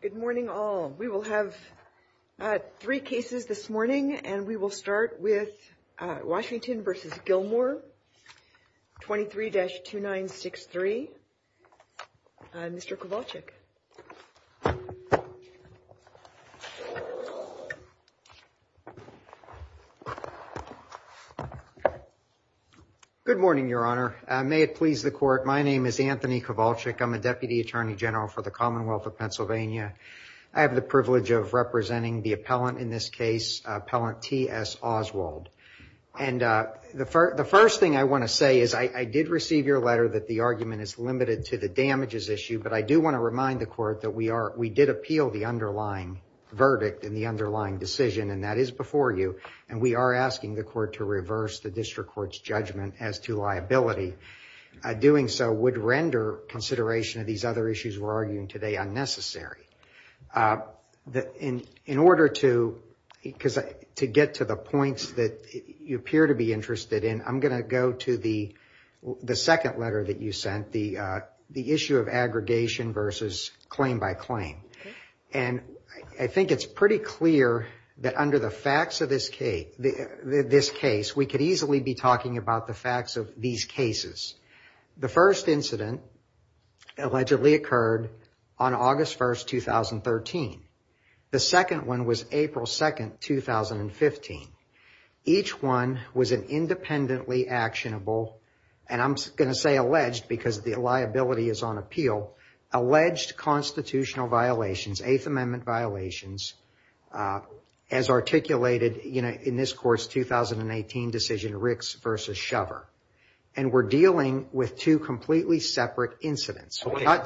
Good morning all. We will have three cases this morning, and we will start with Washington v. Gilmore, 23-2963. Mr. Kowalczyk. Good morning, Your Honor. May it please the court, my name is Anthony Kowalczyk. I'm a Deputy Attorney General for the Commonwealth of Pennsylvania. I have the privilege of representing the appellant in this case, Appellant T.S. Oswald. And the first thing I want to say is I did receive your letter that the argument is limited to the damages issue, but I do want to remind the court that we did appeal the underlying verdict in the underlying decision, and that is before you, and we are asking the court to reverse the district court's judgment as to liability. Doing so would render consideration of these other issues we're arguing today unnecessary. In order to get to the points that you appear to be interested in, I'm going to go to the second letter that you sent, the issue of aggregation versus claim by claim. And I think it's pretty clear that under the facts of this case, we could easily be talking about the facts of these cases. The first incident allegedly occurred on August 1st, 2013. The second one was April 2nd, 2015. Each one was an independently actionable, and I'm going to say alleged because the liability is on appeal, alleged constitutional violations, Eighth Amendment violations, as articulated in this court's 2018 decision, Ricks versus Shover. And we're dealing with two completely separate incidents. Why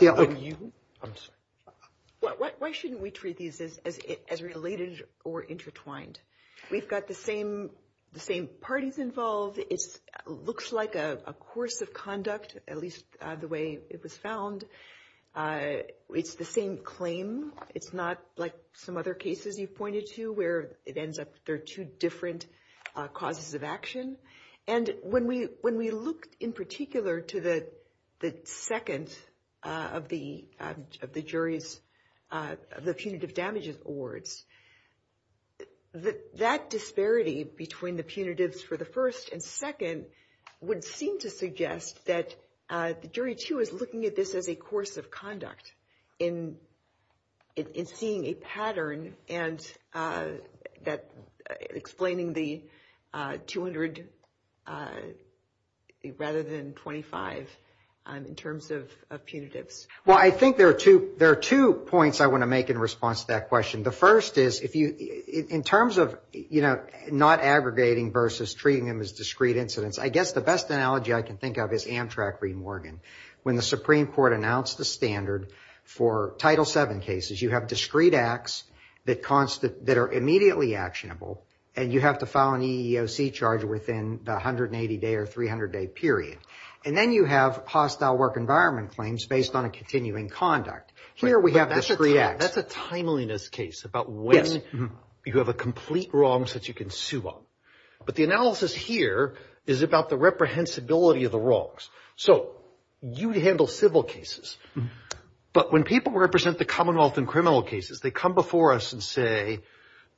shouldn't we treat these as related or intertwined? We've got the same parties involved. It looks like a course of conduct, at least the way it was found. It's the same claim. It's not like some other cases you pointed to where it ends up there are two different causes of action. And when we looked in particular to the second of the jury's, the punitive damages awards, that disparity between the punitives for the first and second would seem to suggest that the jury too is looking at this as a course of conduct. In seeing a pattern and explaining the 200 rather than 25 in terms of punitives. Well, I think there are two points I want to make in response to that question. The first is, in terms of, you know, not aggregating versus treating them as discrete incidents, I guess the best analogy I can think of is Amtrak v. Morgan. When the Supreme Court announced the standard for Title VII cases, you have discrete acts that are immediately actionable, and you have to file an EEOC charge within the 180-day or 300-day period. And then you have hostile work environment claims based on a continuing conduct. That's a timeliness case about when you have a complete wrongs that you can sue on. But the analysis here is about the reprehensibility of the wrongs. So, you handle civil cases. But when people represent the commonwealth in criminal cases, they come before us and say,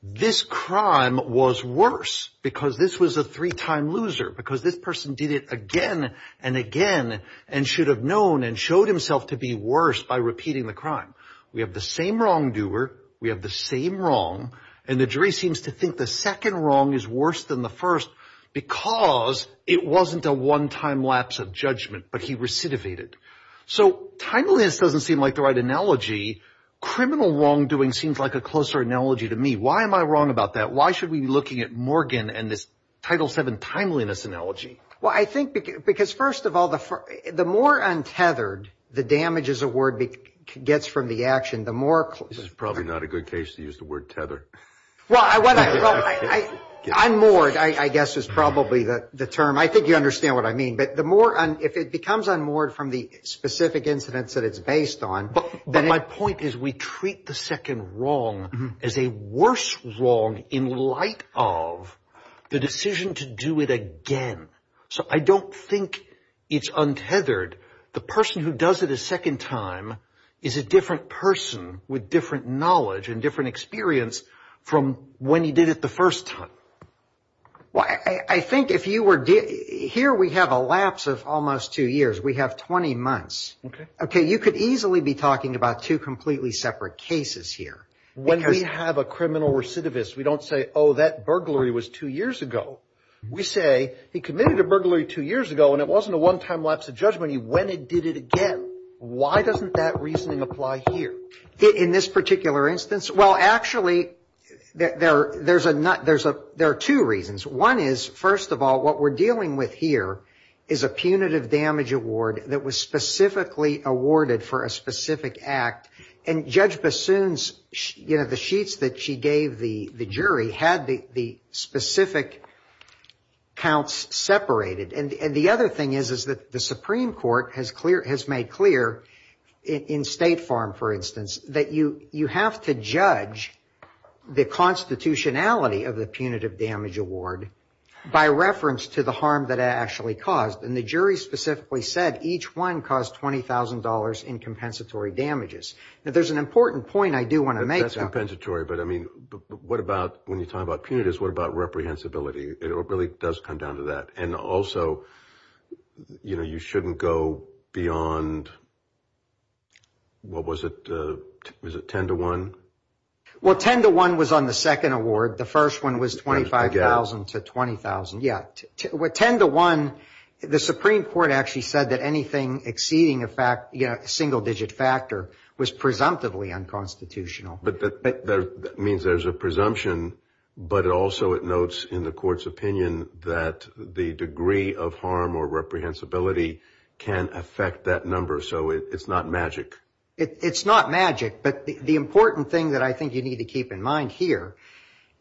this crime was worse because this was a three-time loser. Because this person did it again and again and should have known and showed himself to be worse by repeating the crime. We have the same wrongdoer. We have the same wrong. And the jury seems to think the second wrong is worse than the first because it wasn't a one-time lapse of judgment, but he recidivated. So, timeliness doesn't seem like the right analogy. Criminal wrongdoing seems like a closer analogy to me. Why am I wrong about that? Why should we be looking at Morgan and this Title VII timeliness analogy? Well, I think because, first of all, the more untethered the damage as a word gets from the action, the more... This is probably not a good case to use the word tether. Well, unmoored, I guess, is probably the term. I think you understand what I mean. But the more, if it becomes unmoored from the specific incidents that it's based on... But my point is we treat the second wrong as a worse wrong in light of the decision to do it again. So, I don't think it's untethered. The person who does it a second time is a different person with different knowledge and different experience from when he did it the first time. Well, I think if you were... Here we have a lapse of almost two years. We have 20 months. Okay. Okay. You could easily be talking about two completely separate cases here. When we have a criminal recidivist, we don't say, oh, that burglary was two years ago. We say, he committed a burglary two years ago and it wasn't a one-time lapse of judgment. He went and did it again. Why doesn't that reasoning apply here? In this particular instance? Well, actually, there are two reasons. One is, first of all, what we're dealing with here is a punitive damage award that was specifically awarded for a specific act. And Judge Bassoon's, you know, the sheets that she gave the jury had the specific counts separated. And the other thing is that the Supreme Court has made clear in State Farm, for instance, that you have to judge the constitutionality of the punitive damage award by reference to the harm that it actually caused. And the jury specifically said each one caused $20,000 in compensatory damages. Now, there's an important point I do want to make. That's compensatory, but I mean, what about when you're talking about punitives, what about reprehensibility? It really does come down to that. And also, you know, you shouldn't go beyond... What was it? Was it 10 to 1? Well, 10 to 1 was on the second award. The first one was $25,000 to $20,000. Yeah. With 10 to 1, the Supreme Court actually said that anything exceeding a single-digit factor was presumptively unconstitutional. But that means there's a presumption, but also it notes in the court's opinion that the degree of harm or reprehensibility can affect that number. So it's not magic. It's not magic, but the important thing that I think you need to keep in mind here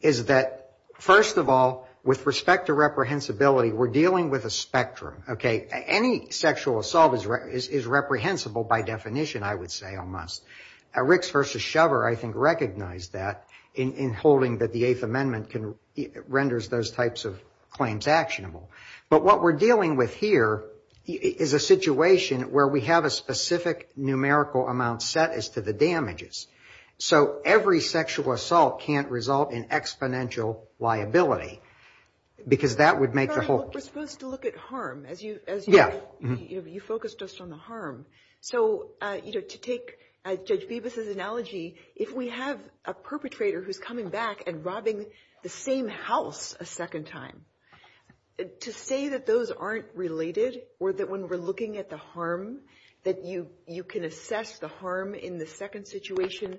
is that, first of all, with respect to reprehensibility, we're dealing with a spectrum, okay? Any sexual assault is reprehensible by definition, I would say, almost. Ricks v. Shover, I think, recognized that in holding that the Eighth Amendment renders those types of claims actionable. But what we're dealing with here is a situation where we have a specific numerical amount set as to the damages. So every sexual assault can't result in exponential liability, because that would make the whole... To say that those aren't related, or that when we're looking at the harm, that you can assess the harm in the second situation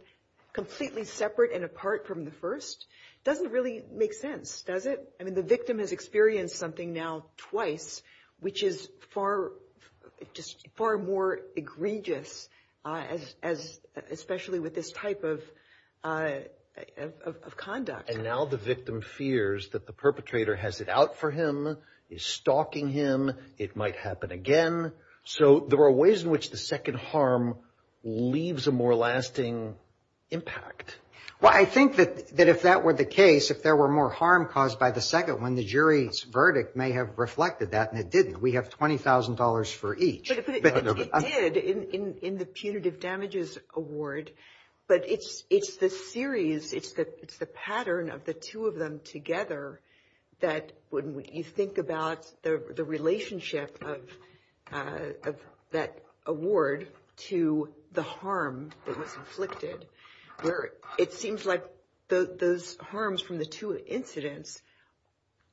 completely separate and apart from the first, doesn't really make sense, does it? I mean, the victim has experienced something now twice, which is far more egregious, especially with this type of conduct. And now the victim fears that the perpetrator has it out for him, is stalking him, it might happen again. So there are ways in which the second harm leaves a more lasting impact. Well, I think that if that were the case, if there were more harm caused by the second one, the jury's verdict may have reflected that, and it didn't. We have $20,000 for each. But it did in the punitive damages award. But it's the series, it's the pattern of the two of them together, that when you think about the relationship of that award to the harm that was inflicted, it seems like those harms from the two incidents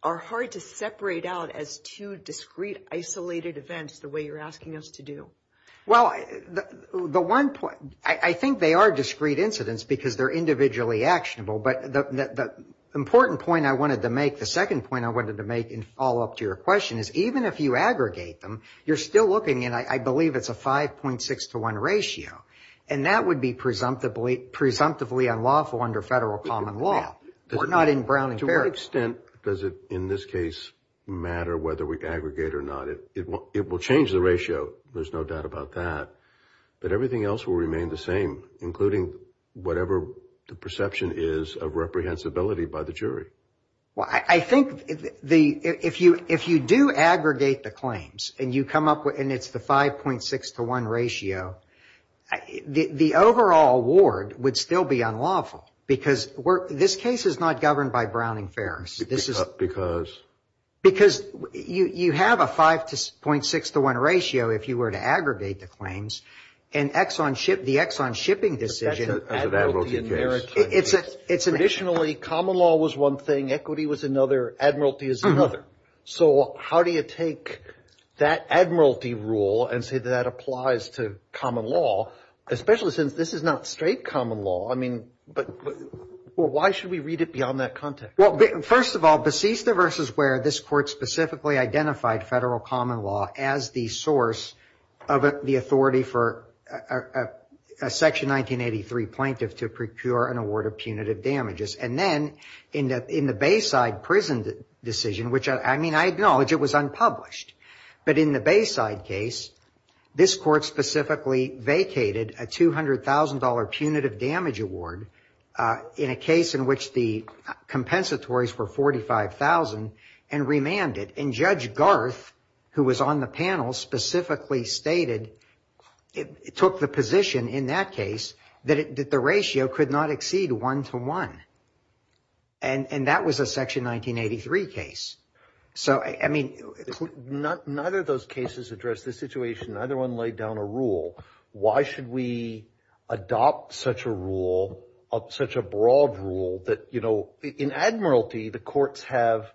are hard to separate out as two discrete, isolated events, the way you're asking us to do. Well, I think they are discrete incidents, because they're individually actionable. But the important point I wanted to make, the second point I wanted to make in follow-up to your question, is even if you aggregate them, you're still looking, and I believe it's a 5.6 to 1 ratio, and that would be presumptively unlawful under federal common law. To what extent does it, in this case, matter whether we aggregate or not? It will change the ratio, there's no doubt about that. But everything else will remain the same, including whatever the perception is of reprehensibility by the jury. Well, I think if you do aggregate the claims, and you come up with, and it's the 5.6 to 1 ratio, the overall award would still be unlawful, because this case is not governed by Browning-Ferris. Because? Because you have a 5.6 to 1 ratio if you were to aggregate the claims, and the Exxon shipping decision. As an admiralty case. Traditionally, common law was one thing, equity was another, admiralty is another. So how do you take that admiralty rule and say that that applies to common law, especially since this is not straight common law? But why should we read it beyond that context? Well, first of all, Besista versus Ware, this court specifically identified federal common law as the source of the authority for a Section 1983 plaintiff to procure an award of punitive damages. And then in the Bayside prison decision, which I mean, I acknowledge it was unpublished, but in the Bayside case, this court specifically vacated a $200,000 punitive damage award in a case in which the compensatories were $45,000 and remanded. And Judge Garth, who was on the panel, specifically stated, took the position in that case that the ratio could not exceed one to one. And that was a Section 1983 case. So, I mean. Neither of those cases address this situation. Neither one laid down a rule. Why should we adopt such a rule, such a broad rule that, you know, in admiralty, the courts have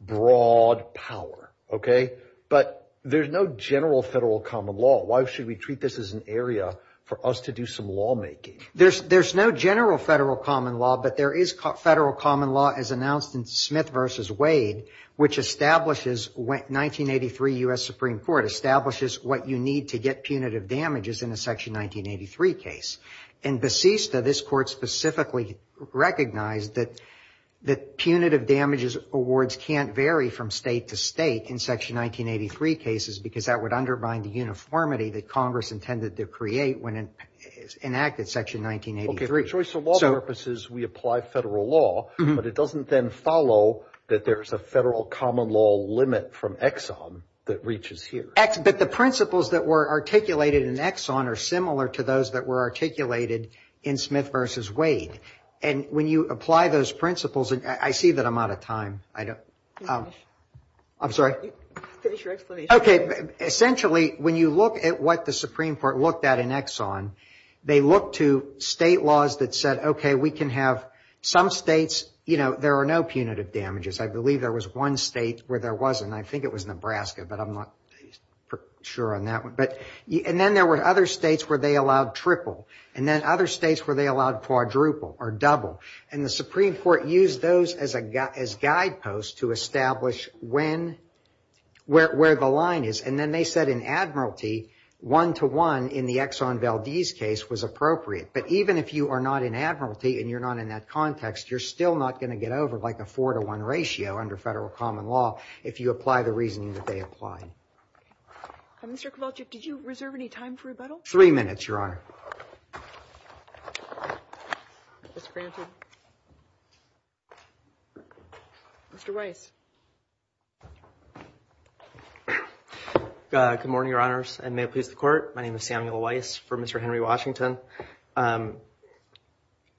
broad power. OK, but there's no general federal common law. Why should we treat this as an area for us to do some lawmaking? There's no general federal common law, but there is federal common law, as announced in Smith versus Wade, which establishes, 1983 U.S. Supreme Court, establishes what you need to get punitive damages in a Section 1983 case. In Basista, this court specifically recognized that punitive damages awards can't vary from state to state in Section 1983 cases, because that would undermine the uniformity that Congress intended to create when it enacted Section 1983. OK, so for law purposes, we apply federal law, but it doesn't then follow that there's a federal common law limit from Exxon that reaches here. But the principles that were articulated in Exxon are similar to those that were articulated in Smith versus Wade. And when you apply those principles, and I see that I'm out of time. I don't. I'm sorry. Finish your explanation. OK. Essentially, when you look at what the Supreme Court looked at in Exxon, they looked to state laws that said, OK, we can have some states, you know, there are no punitive damages. I believe there was one state where there wasn't. I think it was Nebraska, but I'm not sure on that one. And then there were other states where they allowed triple, and then other states where they allowed quadruple or double. And the Supreme Court used those as guideposts to establish when, where the line is. And then they said in Admiralty, one-to-one in the Exxon Valdez case was appropriate. But even if you are not in Admiralty and you're not in that context, you're still not going to get over like a four-to-one ratio under federal common law if you apply the reasoning that they applied. Mr. Kowalczyk, did you reserve any time for rebuttal? Three minutes, Your Honor. That's granted. Mr. Weiss. Good morning, Your Honors, and may it please the Court. My name is Samuel Weiss for Mr. Henry Washington. I'm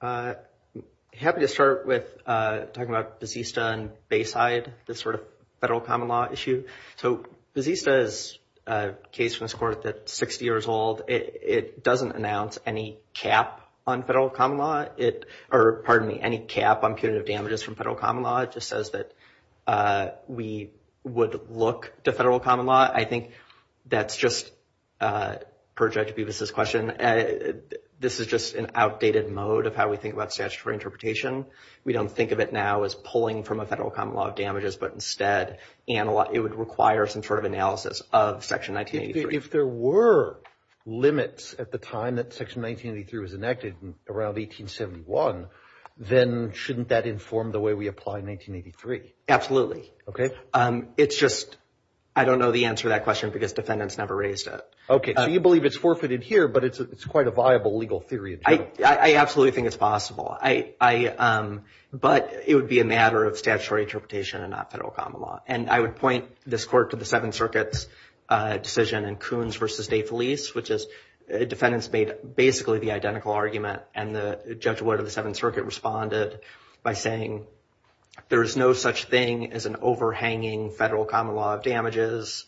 happy to start with talking about Bazista and Bayside, this sort of federal common law issue. So Bazista is a case from this Court that's 60 years old. It doesn't announce any cap on federal common law, or pardon me, any cap on punitive damages from federal common law. It just says that we would look to federal common law. I think that's just per Judge Bevis' question. This is just an outdated mode of how we think about statutory interpretation. We don't think of it now as pulling from a federal common law of damages, but instead it would require some sort of analysis of Section 1983. If there were limits at the time that Section 1983 was enacted around 1871, then shouldn't that inform the way we apply 1983? Absolutely. Okay. It's just I don't know the answer to that question because defendants never raised it. Okay, so you believe it's forfeited here, but it's quite a viable legal theory in general. I absolutely think it's possible, but it would be a matter of statutory interpretation and not federal common law. And I would point this Court to the Seventh Circuit's decision in Coons v. De Felice, which is defendants made basically the identical argument, and the judge of the Seventh Circuit responded by saying, there is no such thing as an overhanging federal common law of damages.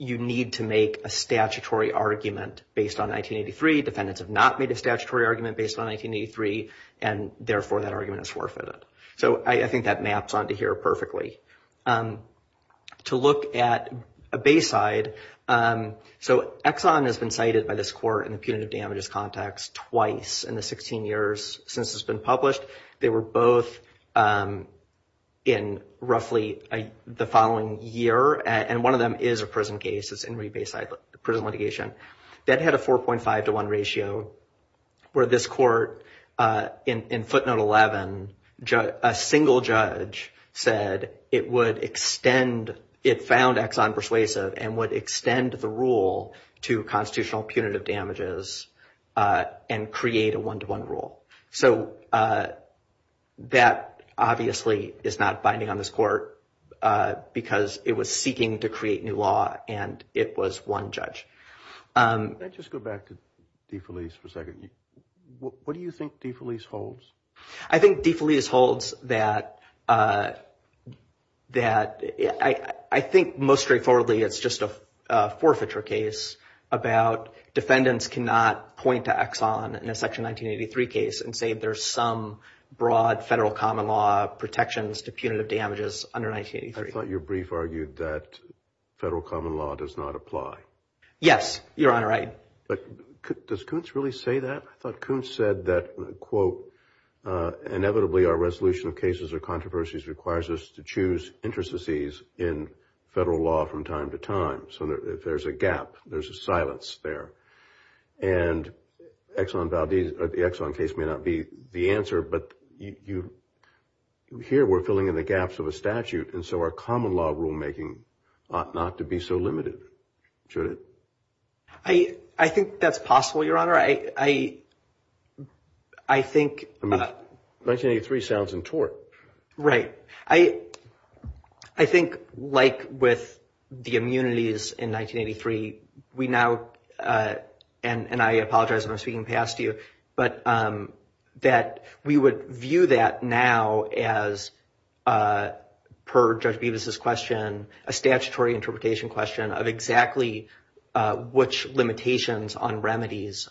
You need to make a statutory argument based on 1983. Defendants have not made a statutory argument based on 1983, and therefore that argument is forfeited. So I think that maps onto here perfectly. To look at Bayside, so Exxon has been cited by this Court in the punitive damages context twice in the 16 years since it's been published. They were both in roughly the following year, and one of them is a prison case. It's Henry Bayside Prison Litigation. That had a 4.5 to 1 ratio where this Court in footnote 11, a single judge said it would extend, it found Exxon persuasive and would extend the rule to constitutional punitive damages and create a 1 to 1 rule. So that obviously is not binding on this Court because it was seeking to create new law and it was one judge. Can I just go back to De Felice for a second? What do you think De Felice holds? I think De Felice holds that I think most straightforwardly it's just a forfeiture case about defendants cannot point to Exxon in a Section 1983 case and say there's some broad federal common law protections to punitive damages under 1983. I thought your brief argued that federal common law does not apply. Yes, Your Honor, I... But does Kuntz really say that? I thought Kuntz said that, quote, inevitably our resolution of cases or controversies requires us to choose interstices in federal law from time to time. So if there's a gap, there's a silence there. And Exxon Valdez or the Exxon case may not be the answer, but you hear we're filling in the gaps of a statute, and so our common law rulemaking ought not to be so limited, should it? I think that's possible, Your Honor. I think... I mean, 1983 sounds in tort. Right. I think like with the immunities in 1983, we now, and I apologize if I'm speaking past you, but that we would view that now as, per Judge Bevis' question, a statutory interpretation question of exactly which limitations on remedies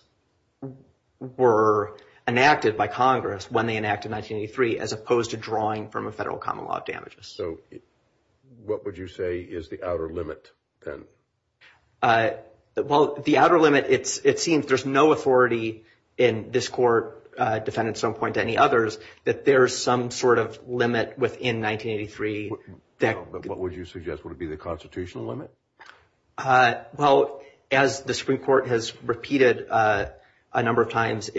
were enacted by Congress when they enacted 1983 as opposed to drawing from a federal common law of damages. So what would you say is the outer limit, then? Well, the outer limit, it seems there's no authority in this Court, defended at some point to any others, that there's some sort of limit within 1983 that... But what would you suggest? Would it be the constitutional limit? Well, as the Supreme Court has repeated a number of times,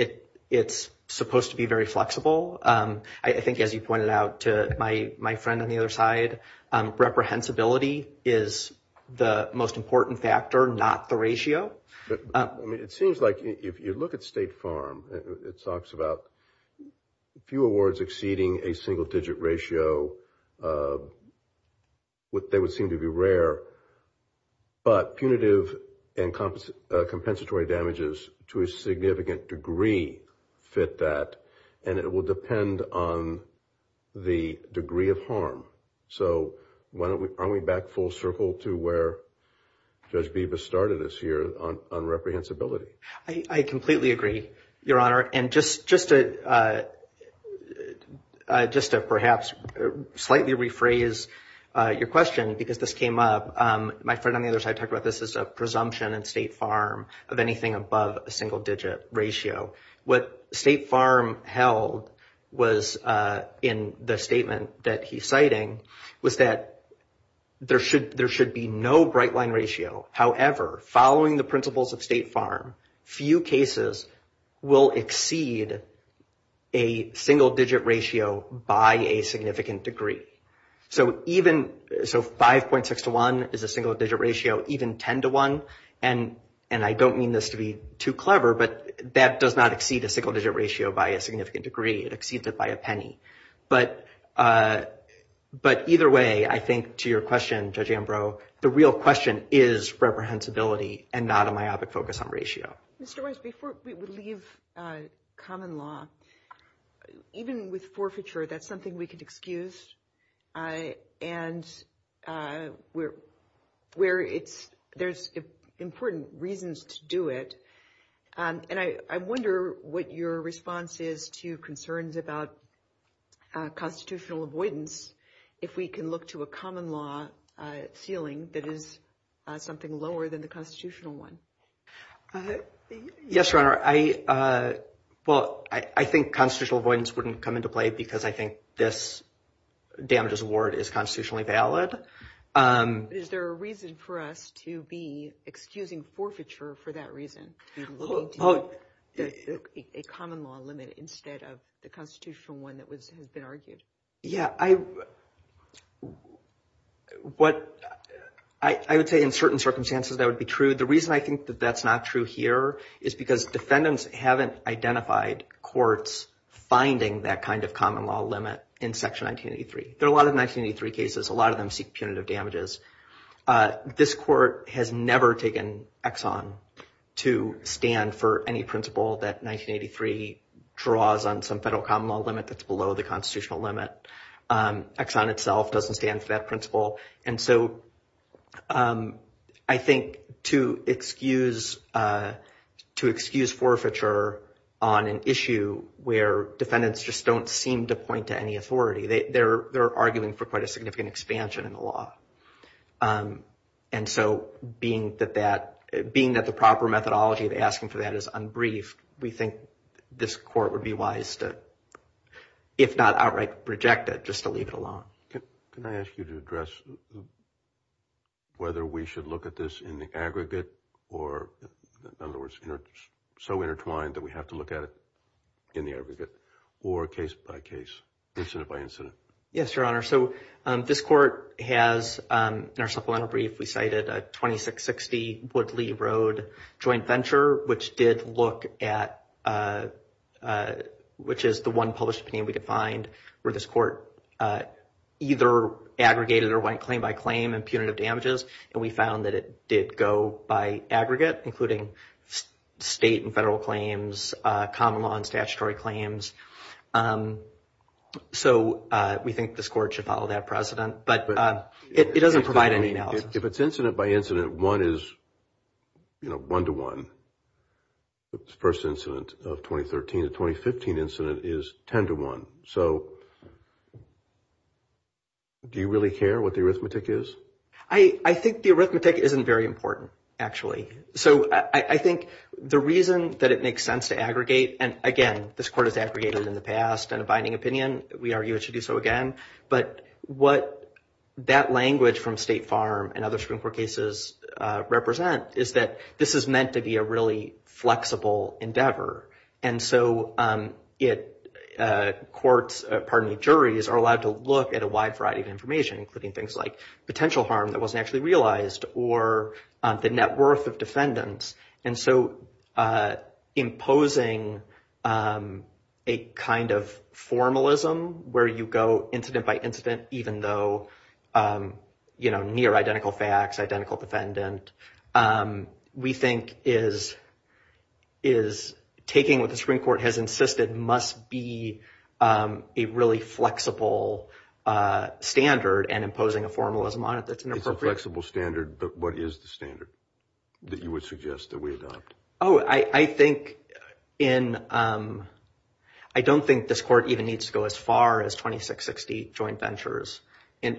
it's supposed to be very flexible. I think, as you pointed out to my friend on the other side, reprehensibility is the most important factor, not the ratio. I mean, it seems like if you look at State Farm, it talks about a few awards exceeding a single-digit ratio. They would seem to be rare, but punitive and compensatory damages to a significant degree fit that, and it will depend on the degree of harm. So aren't we back full circle to where Judge Beebe has started us here on reprehensibility? I completely agree, Your Honor. And just to perhaps slightly rephrase your question, because this came up, my friend on the other side talked about this as a presumption in State Farm of anything above a single-digit ratio. What State Farm held was, in the statement that he's citing, was that there should be no bright-line ratio. However, following the principles of State Farm, few cases will exceed a single-digit ratio by a significant degree. So 5.6 to 1 is a single-digit ratio, even 10 to 1. And I don't mean this to be too clever, but that does not exceed a single-digit ratio by a significant degree. It exceeds it by a penny. But either way, I think to your question, Judge Ambrose, the real question is reprehensibility and not a myopic focus on ratio. Mr. Weiss, before we leave common law, even with forfeiture, that's something we could excuse. And there's important reasons to do it. And I wonder what your response is to concerns about constitutional avoidance, if we can look to a common law ceiling that is something lower than the constitutional one. Yes, Your Honor. Well, I think constitutional avoidance wouldn't come into play because I think this damages award is constitutionally valid. Is there a reason for us to be excusing forfeiture for that reason? A common law limit instead of the constitutional one that has been argued? Yeah, I would say in certain circumstances that would be true. The reason I think that that's not true here is because defendants haven't identified courts finding that kind of common law limit in Section 1983. There are a lot of 1983 cases. A lot of them seek punitive damages. This court has never taken Exxon to stand for any principle that 1983 draws on some federal common law limit that's below the constitutional limit. Exxon itself doesn't stand for that principle. And so I think to excuse forfeiture on an issue where defendants just don't seem to point to any authority, they're arguing for quite a significant expansion in the law. And so being that the proper methodology of asking for that is unbriefed, we think this court would be wise to, if not outright reject it, just to leave it alone. Can I ask you to address whether we should look at this in the aggregate or, in other words, so intertwined that we have to look at it in the aggregate or case by case, incident by incident? Yes, Your Honor. So this court has, in our supplemental brief, we cited a 2660 Woodley Road joint venture, which did look at, which is the one published opinion we could find, where this court either aggregated or went claim by claim in punitive damages. And we found that it did go by aggregate, including state and federal claims, common law and statutory claims. So we think this court should follow that precedent. But it doesn't provide anything else. If it's incident by incident, one is, you know, one to one. The first incident of 2013, the 2015 incident is ten to one. So do you really care what the arithmetic is? I think the arithmetic isn't very important, actually. So I think the reason that it makes sense to aggregate, and, again, this court has aggregated in the past in a binding opinion. We argue it should do so again. But what that language from State Farm and other Supreme Court cases represent is that this is meant to be a really flexible endeavor. And so courts, pardon me, juries are allowed to look at a wide variety of information, including things like potential harm that wasn't actually realized or the net worth of defendants. And so imposing a kind of formalism where you go incident by incident, even though, you know, near identical facts, identical defendant, we think is taking what the Supreme Court has insisted must be a really flexible standard and imposing a formalism on it that's inappropriate. Not a flexible standard, but what is the standard that you would suggest that we adopt? Oh, I think in, I don't think this court even needs to go as far as 2660 joint ventures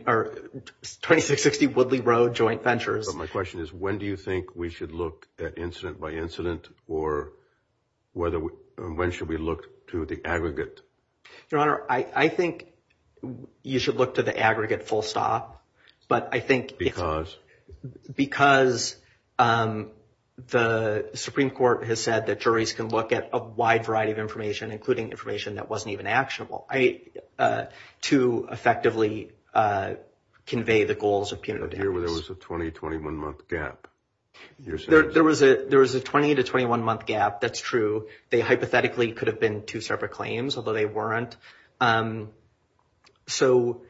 or 2660 Woodley Road joint ventures. My question is when do you think we should look at incident by incident or when should we look to the aggregate? Your Honor, I think you should look to the aggregate full stop. But I think. Because? Because the Supreme Court has said that juries can look at a wide variety of information, including information that wasn't even actionable to effectively convey the goals of penal defense. I hear where there was a 20, 21 month gap. There was a 20 to 21 month gap. That's true. They hypothetically could have been two separate claims, although they weren't. So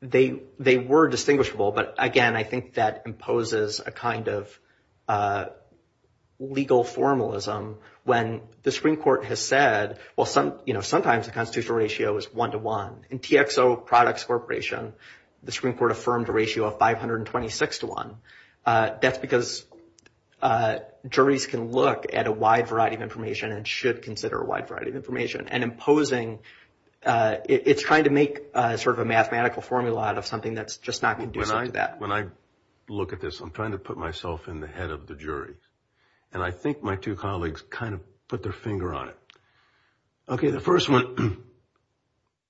they were distinguishable. But again, I think that imposes a kind of legal formalism when the Supreme Court has said, well, sometimes the constitutional ratio is one to one. In TXO Products Corporation, the Supreme Court affirmed a ratio of 526 to one. That's because juries can look at a wide variety of information and should consider a wide variety of information. And imposing, it's trying to make sort of a mathematical formula out of something that's just not conducive to that. When I look at this, I'm trying to put myself in the head of the jury. And I think my two colleagues kind of put their finger on it. Okay, the first one,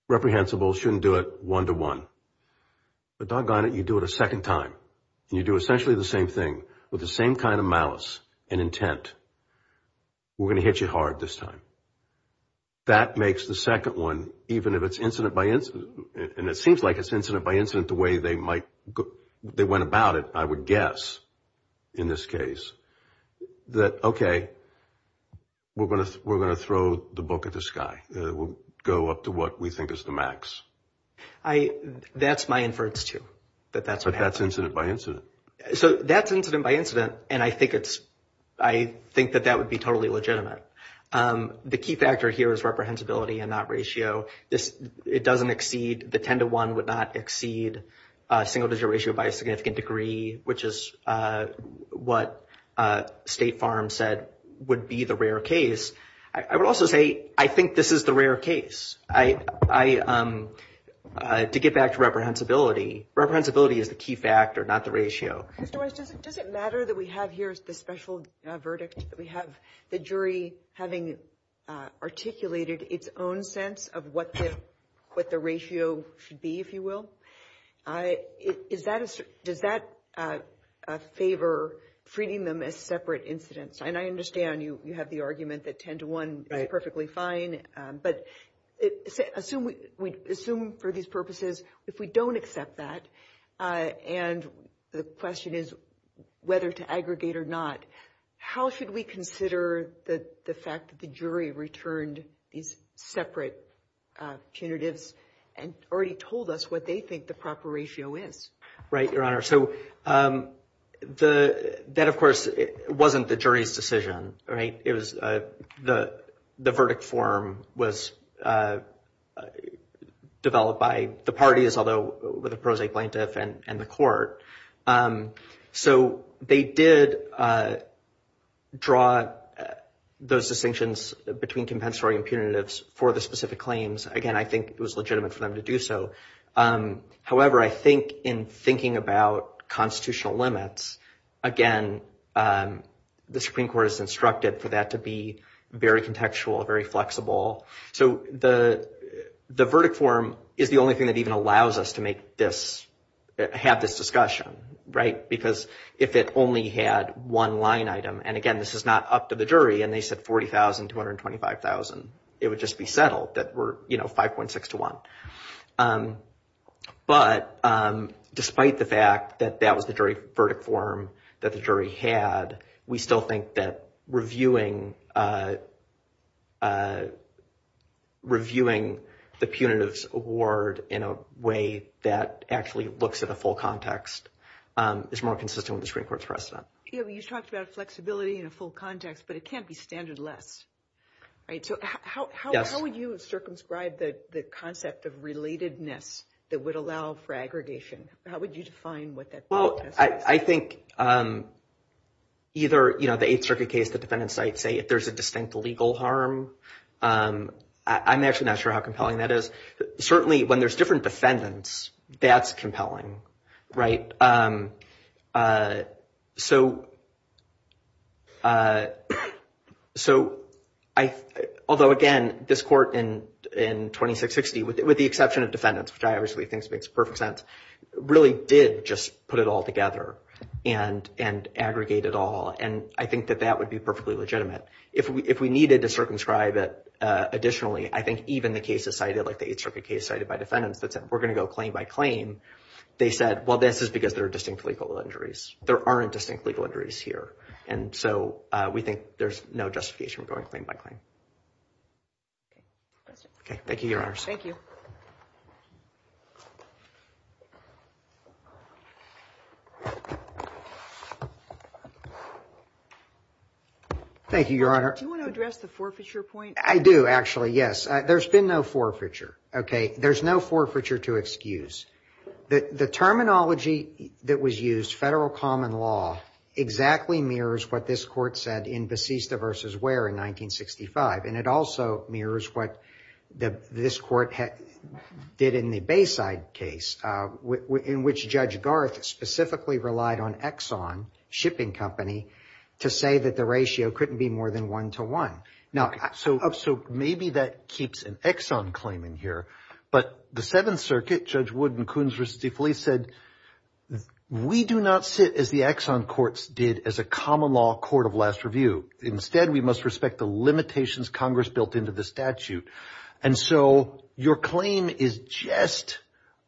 reprehensible, shouldn't do it one to one. But doggone it, you do it a second time. And you do essentially the same thing with the same kind of malice and intent. We're going to hit you hard this time. That makes the second one, even if it's incident by incident, and it seems like it's incident by incident the way they went about it, I would guess in this case, that, okay, we're going to throw the book at the sky. We'll go up to what we think is the max. That's my inference, too. But that's incident by incident. So that's incident by incident, and I think that that would be totally legitimate. The key factor here is reprehensibility and not ratio. It doesn't exceed, the ten to one would not exceed single digit ratio by a significant degree, which is what State Farm said would be the rare case. I would also say I think this is the rare case. To get back to reprehensibility, reprehensibility is the key factor, not the ratio. Mr. Weiss, does it matter that we have here the special verdict? We have the jury having articulated its own sense of what the ratio should be, if you will. Does that favor treating them as separate incidents? And I understand you have the argument that ten to one is perfectly fine. But assume for these purposes, if we don't accept that, and the question is whether to aggregate or not, how should we consider the fact that the jury returned these separate punitives and already told us what they think the proper ratio is? Right, Your Honor. So that, of course, wasn't the jury's decision, right? The verdict form was developed by the parties, although with a pro se plaintiff and the court. So they did draw those distinctions between compensatory and punitives for the specific claims. Again, I think it was legitimate for them to do so. However, I think in thinking about constitutional limits, again, the Supreme Court has instructed for that to be very contextual, very flexible. So the verdict form is the only thing that even allows us to make this, have this discussion, right? Because if it only had one line item, and again, this is not up to the jury, and they said 40,000 to 125,000, it would just be settled that we're 5.6 to 1. But despite the fact that that was the jury verdict form that the jury had, we still think that reviewing the punitives award in a way that actually looks at a full context is more consistent with the Supreme Court's precedent. You talked about flexibility in a full context, but it can't be standard less, right? So how would you circumscribe the concept of relatedness that would allow for aggregation? How would you define what that is? Well, I think either the Eighth Circuit case, the defendants might say if there's a distinct legal harm. I'm actually not sure how compelling that is. Certainly when there's different defendants, that's compelling, right? So, although again, this court in 2660, with the exception of defendants, which I obviously think makes perfect sense, really did just put it all together and aggregate it all, and I think that that would be perfectly legitimate. If we needed to circumscribe it additionally, I think even the cases cited, like the Eighth Circuit case cited by defendants that said we're going to go claim by claim, they said, well, this is because there are distinct legal injuries. There aren't distinct legal injuries here. And so we think there's no justification for going claim by claim. Okay. Thank you, Your Honors. Thank you. Thank you, Your Honor. Do you want to address the forfeiture point? I do, actually, yes. There's been no forfeiture, okay? There's no forfeiture to excuse. The terminology that was used, federal common law, exactly mirrors what this court said in Basista v. Ware in 1965, and it also mirrors what this court did in the Bayside case, in which Judge Garth specifically relied on Exxon, a shipping company, to say that the ratio couldn't be more than one to one. So maybe that keeps an Exxon claim in here, but the Seventh Circuit, Judge Wood and Coons v. DeFelice said, we do not sit, as the Exxon courts did, as a common law court of last review. Instead, we must respect the limitations Congress built into the statute. And so your claim is just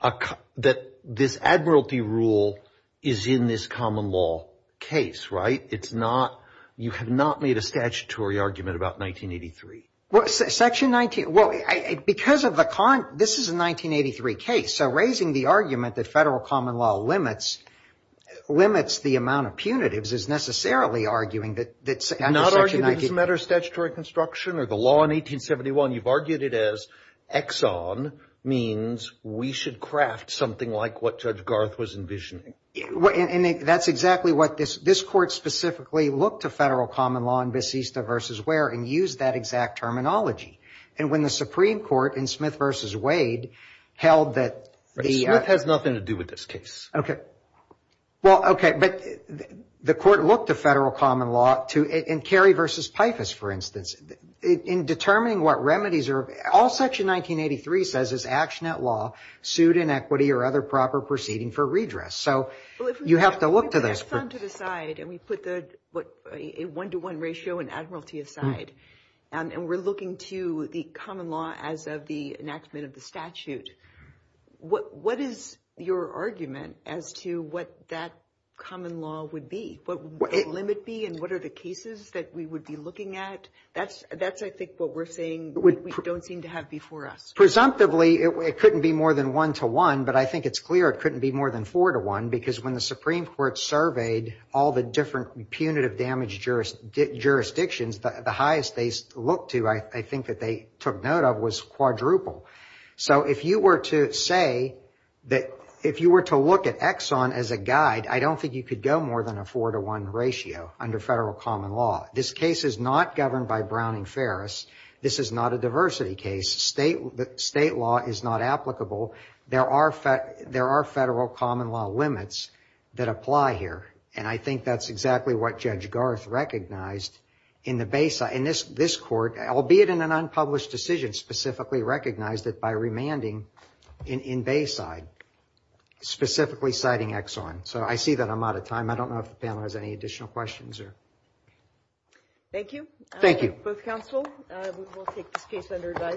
that this admiralty rule is in this common law case, right? It's not, you have not made a statutory argument about 1983. Section 19, well, because of the, this is a 1983 case, so raising the argument that federal common law limits the amount of punitives is necessarily arguing that under Section 19. Not arguing it's a matter of statutory construction or the law in 1871. You've argued it as Exxon means we should craft something like what Judge Garth was envisioning. And that's exactly what this, this court specifically looked to federal common law in Vecista v. Ware and used that exact terminology. And when the Supreme Court in Smith v. Wade held that the- But Smith has nothing to do with this case. Okay. Well, okay, but the court looked to federal common law to, in Carey v. Pifus, for instance, in determining what remedies are, all Section 1983 says is action at law, suit inequity or other proper proceeding for redress. So you have to look to this. If we put Exxon to the side and we put a one-to-one ratio and Admiralty aside and we're looking to the common law as of the enactment of the statute, what is your argument as to what that common law would be? What would the limit be and what are the cases that we would be looking at? That's, I think, what we're saying we don't seem to have before us. Presumptively, it couldn't be more than one-to-one, but I think it's clear it couldn't be more than four-to-one because when the Supreme Court surveyed all the different punitive damage jurisdictions, the highest they looked to, I think, that they took note of was quadruple. So if you were to say that- If you were to look at Exxon as a guide, I don't think you could go more than a four-to-one ratio under federal common law. This case is not governed by Browning-Ferris. This is not a diversity case. State law is not applicable. There are federal common law limits that apply here, and I think that's exactly what Judge Garth recognized in the Bayside. And this court, albeit in an unpublished decision, specifically recognized it by remanding in Bayside, specifically citing Exxon. So I see that I'm out of time. I don't know if the panel has any additional questions. Thank you. Thank you. Both counsel, we will take this case under advisory.